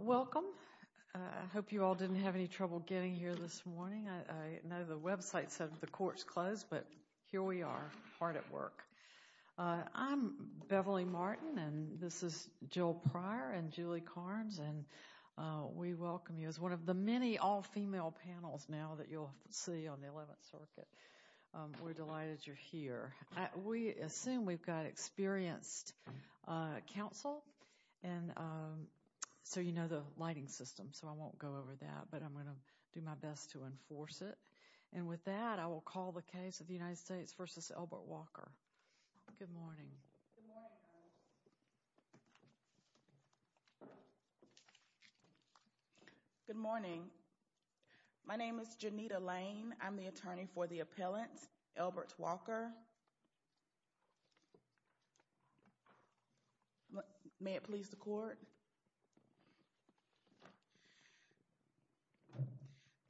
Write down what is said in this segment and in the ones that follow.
Welcome. I hope you all didn't have any trouble getting here this morning. I know the website said the court's closed, but here we are, hard at work. I'm Beverly Martin, and this is Jill Pryor and Julie Carnes, and we welcome you as one of the many all-female panels now that you'll see on the 11th Circuit. We're delighted you're here. We assume we've got experienced counsel, so you know the lighting system, so I won't go over that, but I'm going to do my best to enforce it. And with that, I will call the case of the United States v. Elbert Walker. Good morning. Good morning. My name is Janita Lane. I'm the attorney for the appellant, Elbert Walker.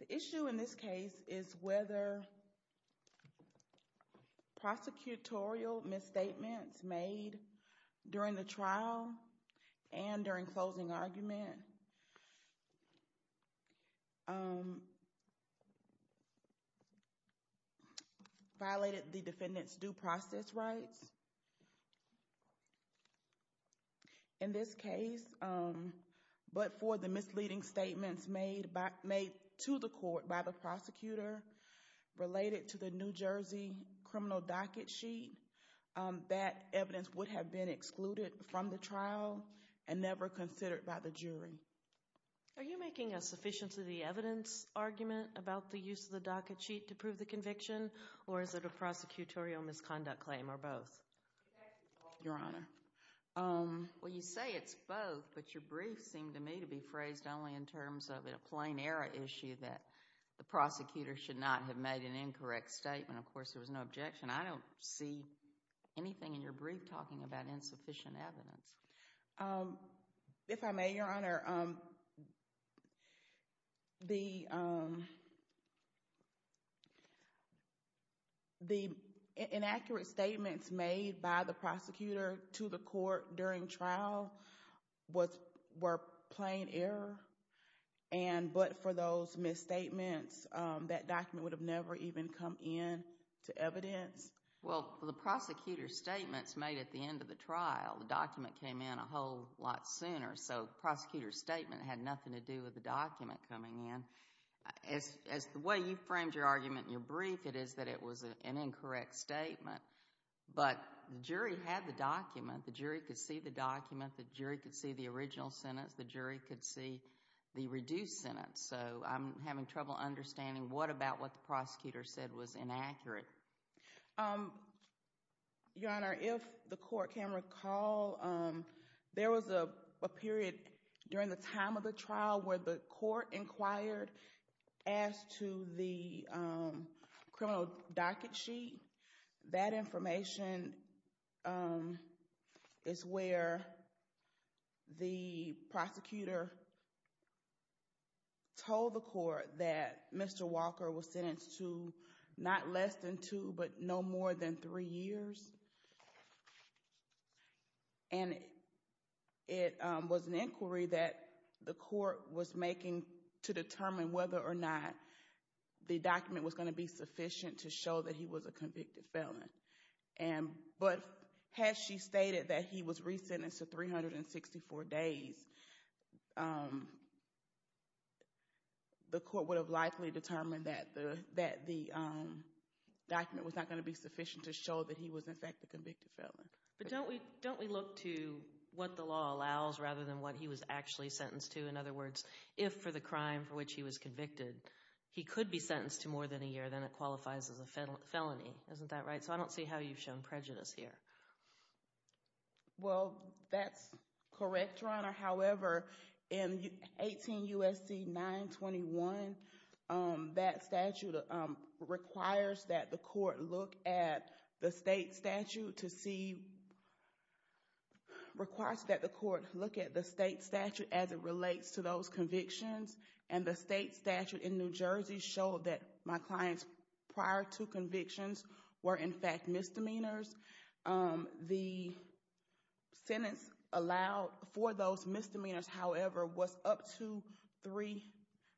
The issue in this case is whether prosecutorial misstatements made during the trial and during closing argument violated the defendant's due process rights. In this case, but for the misleading statements made to the court by the prosecutor related to the New Jersey criminal docket sheet, that evidence would have been excluded from the trial and never considered by the jury. Are you making a sufficiency of the evidence argument about the use of the docket sheet to prove the conviction, or is it a prosecutorial misconduct claim, or both? Your Honor, well, you say it's both, but your brief seemed to me to be phrased only in terms of a plain error issue that the prosecutor should not have made an incorrect statement. Of course, there was no objection. I don't see anything in your brief talking about insufficient evidence. If I may, Your Honor, the inaccurate statements made by the prosecutor to the court during trial were plain error, but for those misstatements, that document would have never even come in to evidence. Well, the prosecutor's statements made at the end of the trial, the document came in a whole lot sooner, so the prosecutor's statement had nothing to do with the document coming in. As the way you framed your argument in your brief, it is that it was an incorrect statement, but the jury had the document. The jury could see the document. The jury could see the original sentence. The jury could see the reduced sentence. So I'm having trouble understanding what about what the prosecutor said was inaccurate. Your Honor, if the court can recall, there was a period during the time of the trial where the court inquired as to the criminal docket sheet. That information is where the prosecutor told the court that Mr. Walker was sentenced to not less than two, but no more than three years. And it was an inquiry that the court was making to determine whether or not the document was going to be sufficient to show that he was a convicted felon. But had she stated that he was resentenced to 364 days, the court would have likely determined that the document was not going to be sufficient to show that he was in fact a convicted felon. But don't we look to what the law allows rather than what he was actually sentenced to? In other words, if for the crime for which he was convicted, he could be sentenced to more than a year. Then it qualifies as a felony. Isn't that right? So I don't see how you've shown prejudice here. Well, that's correct, Your Honor. However, in 18 U.S.C. 921, that statute requires that the court look at the state statute as it relates to those convictions. And the state statute in New Jersey showed that my clients prior to convictions were in fact misdemeanors. The sentence allowed for those misdemeanors, however, was up to three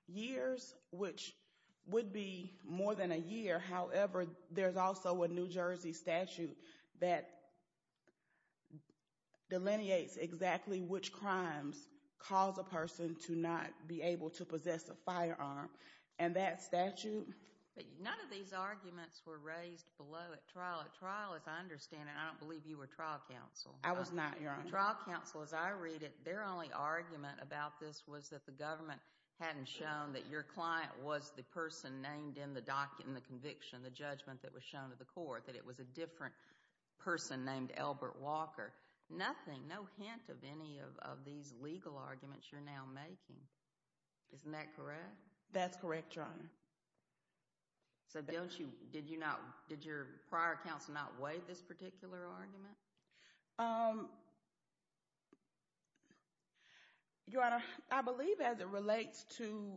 years, which would be more than a year. However, there's also a New Jersey statute that delineates exactly which crimes cause a person to not be able to possess a firearm. And that statute… But none of these arguments were raised below at trial. At trial, as I understand it, I don't believe you were trial counsel. I was not, Your Honor. At trial counsel, as I read it, their only argument about this was that the government hadn't shown that your client was the person named in the conviction, the judgment that was shown to the court, that it was a different person named Albert Walker. Nothing, no hint of any of these legal arguments you're now making. Isn't that correct? That's correct, Your Honor. So did your prior counsel not weigh this particular argument? Your Honor, I believe as it relates to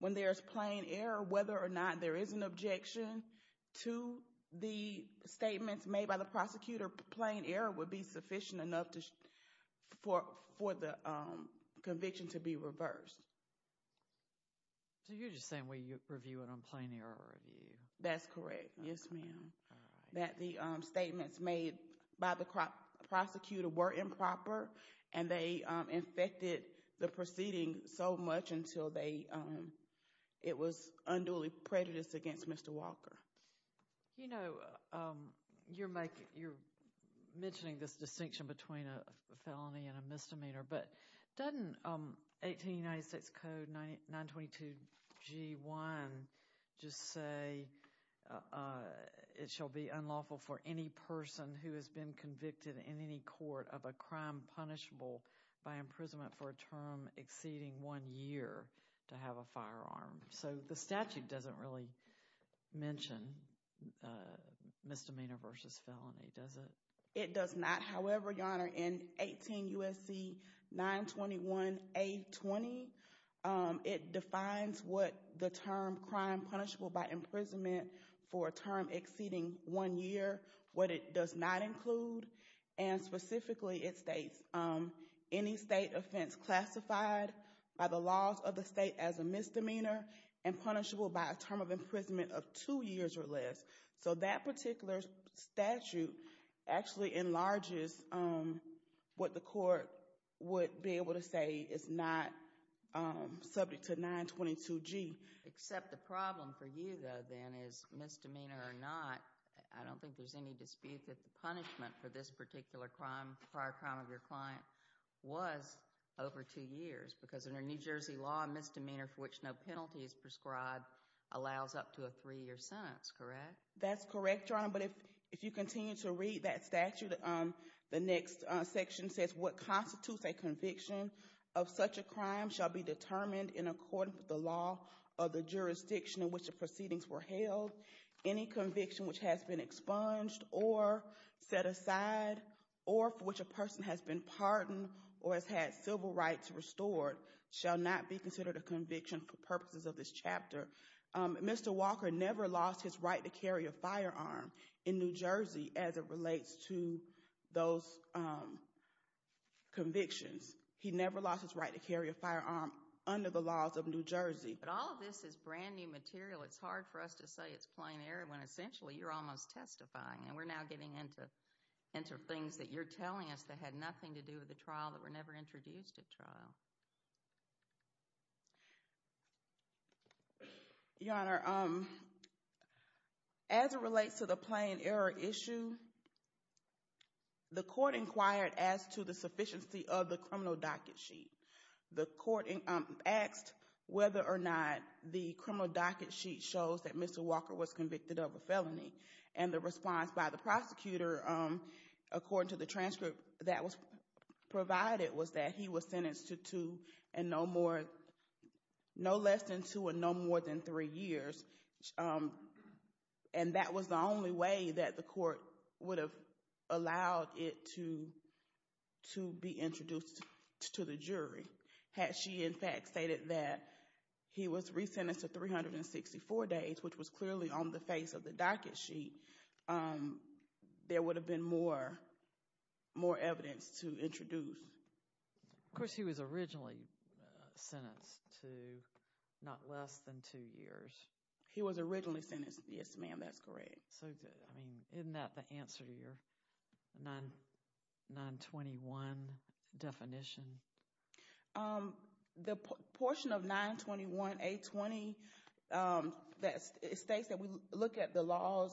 when there's plain error, whether or not there is an objection to the statements made by the prosecutor, plain error would be sufficient enough for the conviction to be reversed. So you're just saying we review it on plain error review. That's correct. Yes, ma'am. That the statements made by the prosecutor were improper and they infected the proceeding so much until it was unduly prejudiced against Mr. Walker. You know, you're mentioning this distinction between a felony and a misdemeanor, but doesn't 1896 Code 922G1 just say it shall be unlawful for any person who has been convicted in any court of a crime punishable by imprisonment for a term exceeding one year to have a firearm? So the statute doesn't really mention misdemeanor versus felony, does it? It does not. However, Your Honor, in 18 U.S.C. 921A20, it defines what the term crime punishable by imprisonment for a term exceeding one year, what it does not include, and specifically it states any state offense classified by the laws of the state as a misdemeanor and punishable by a term of imprisonment of two years or less. So that particular statute actually enlarges what the court would be able to say is not subject to 922G. Except the problem for you, though, then, is misdemeanor or not, I don't think there's any dispute that the punishment for this particular crime, prior crime of your client, was over two years, because under New Jersey law, misdemeanor for which no penalty is prescribed allows up to a three-year sentence, correct? That's correct, Your Honor, but if you continue to read that statute, the next section says, what constitutes a conviction of such a crime shall be determined in accordance with the law of the jurisdiction in which the proceedings were held. Any conviction which has been expunged or set aside, or for which a person has been pardoned or has had civil rights restored, shall not be considered a conviction for purposes of this chapter. Mr. Walker never lost his right to carry a firearm in New Jersey as it relates to those convictions. He never lost his right to carry a firearm under the laws of New Jersey. But all of this is brand new material. It's hard for us to say it's plain error when essentially you're almost testifying, and we're now getting into things that you're telling us that had nothing to do with the trial that were never introduced at trial. Your Honor, as it relates to the plain error issue, the court inquired as to the sufficiency of the criminal docket sheet. The court asked whether or not the criminal docket sheet shows that Mr. Walker was convicted of a felony, and the response by the prosecutor, according to the transcript that was provided, was that he was sentenced to no less than two and no more than three years. And that was the only way that the court would have allowed it to be introduced to the jury. Had she, in fact, stated that he was resentenced to 364 days, which was clearly on the face of the docket sheet, there would have been more evidence to introduce. Of course, he was originally sentenced to not less than two years. He was originally sentenced. Yes, ma'am, that's correct. Isn't that the answer to your 921 definition? The portion of 921-820 states that we look at the laws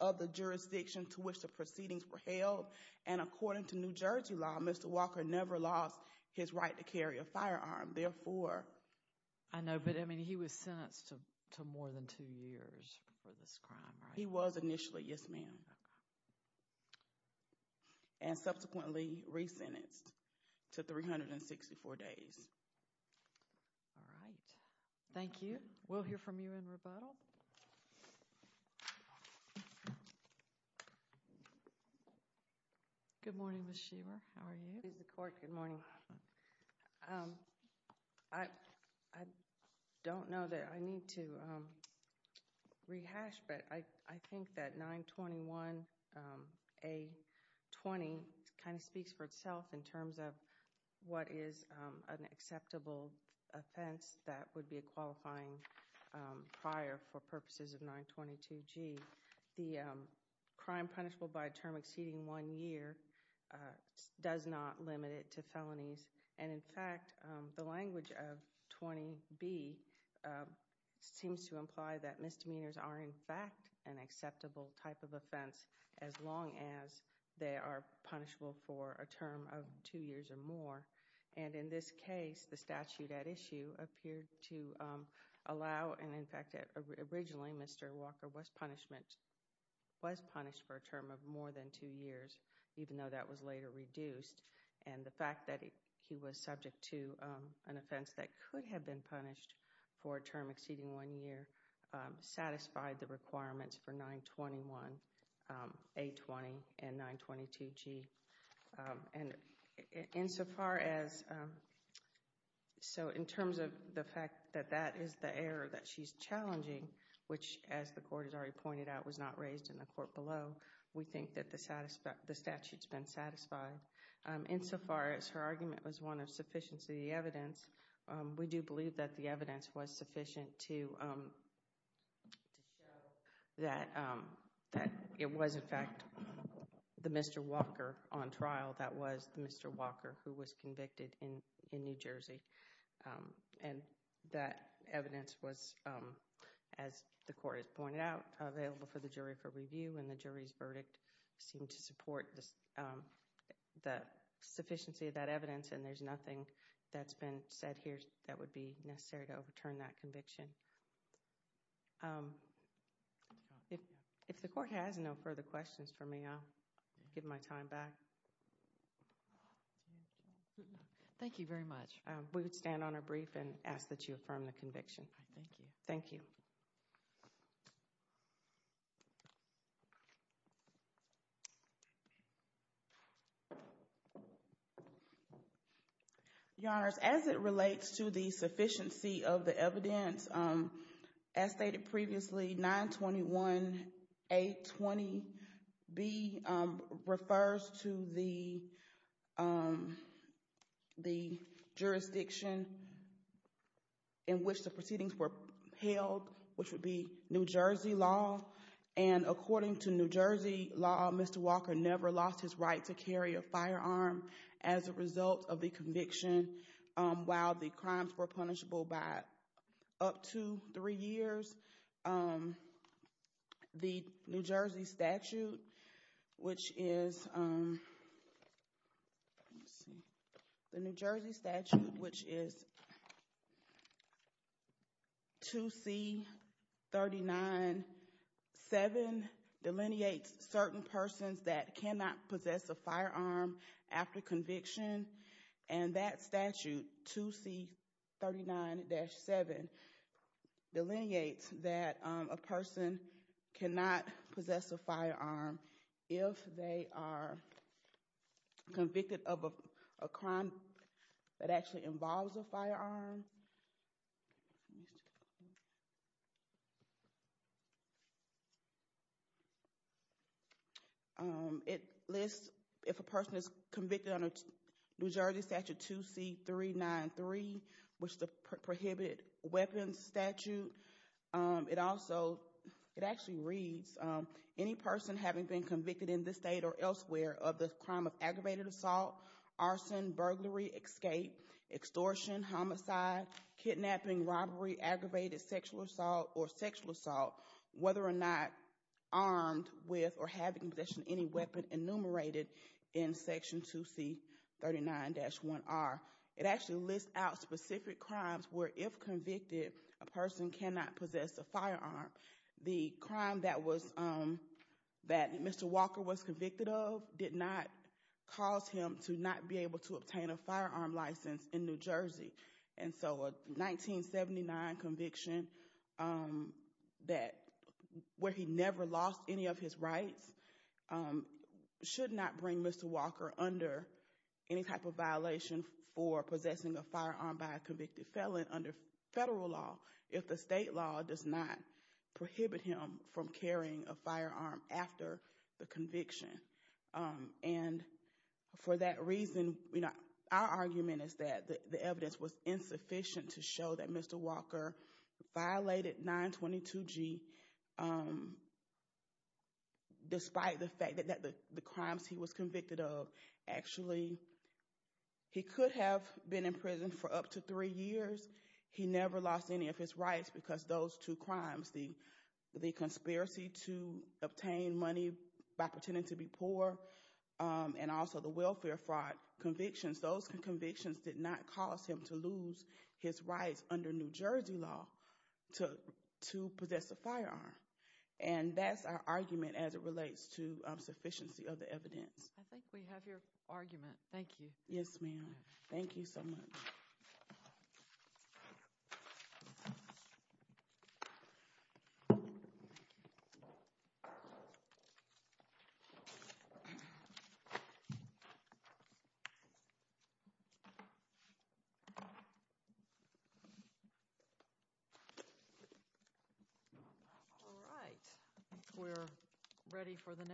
of the jurisdiction to which the proceedings were held, and according to New Jersey law, Mr. Walker never lost his right to carry a firearm. I know, but I mean, he was sentenced to more than two years for this crime, right? He was initially, yes, ma'am, and subsequently resentenced to 364 days. All right. Thank you. We'll hear from you in rebuttal. Good morning, Ms. Shearer. How are you? Good morning. I don't know that I need to rehash, but I think that 921-A20 kind of speaks for itself in terms of what is an acceptable offense that would be a qualifying prior for purposes of 922-G. The crime punishable by a term exceeding one year does not limit it to felonies. And in fact, the language of 20-B seems to imply that misdemeanors are in fact an acceptable type of offense as long as they are punishable for a term of two years or more. And in this case, the statute at issue appeared to allow, and in fact, originally Mr. Walker was punished for a term of more than two years, even though that was later reduced. And the fact that he was subject to an offense that could have been punished for a term exceeding one year satisfied the requirements for 921-A20 and 922-G. And insofar as, so in terms of the fact that that is the error that she's challenging, which, as the court has already pointed out, was not raised in the court below, we think that the statute's been satisfied. Insofar as her argument was one of sufficiency of the evidence, we do believe that the evidence was sufficient to show that it was in fact the Mr. Walker on trial that was the Mr. Walker who was convicted in New Jersey. And that evidence was, as the court has pointed out, available for the jury for review, and the jury's verdict seemed to support the sufficiency of that evidence, and there's nothing that's been said here that would be necessary to overturn that conviction. If the court has no further questions for me, I'll give my time back. Thank you very much. We would stand on our brief and ask that you affirm the conviction. Thank you. Thank you. Your Honors, as it relates to the sufficiency of the evidence, as stated previously, 921A20B refers to the jurisdiction in which the proceedings were held, which would be New Jersey law, and according to New Jersey law, Mr. Walker never lost his right to carry a firearm as a result of the conviction, while the crimes were punishable by up to three years. The New Jersey statute, which is 2C39-7, delineates certain persons that cannot possess a firearm after conviction, and that statute, 2C39-7, delineates that a person cannot possess a firearm if they are convicted of a crime that actually involves a firearm. It lists if a person is convicted under New Jersey statute 2C39-3, which is the prohibited weapons statute. It also, it actually reads, any person having been convicted in this state or elsewhere of the crime of aggravated assault, arson, burglary, escape, extortion, homicide, kidnapping, robbery, aggravated sexual assault, or sexual assault, whether or not armed with or having possession of any weapon enumerated in section 2C39-1R. It actually lists out specific crimes where, if convicted, a person cannot possess a firearm. The crime that was, that Mr. Walker was convicted of, did not cause him to not be able to obtain a firearm license in New Jersey. And so a 1979 conviction that, where he never lost any of his rights, should not bring Mr. Walker under any type of violation for possessing a firearm by a convicted felon under federal law. If the state law does not prohibit him from carrying a firearm after the conviction. And for that reason, you know, our argument is that the evidence was insufficient to show that Mr. Walker violated 922G, despite the fact that the crimes he was convicted of, actually, he could have been in prison for up to three years. He never lost any of his rights because those two crimes, the conspiracy to obtain money by pretending to be poor, and also the welfare fraud convictions, those convictions did not cause him to lose his rights under New Jersey law to possess a firearm. And that's our argument as it relates to sufficiency of the evidence. I think we have your argument. Thank you. Yes, ma'am. Thank you so much. All right, we're ready for the next one.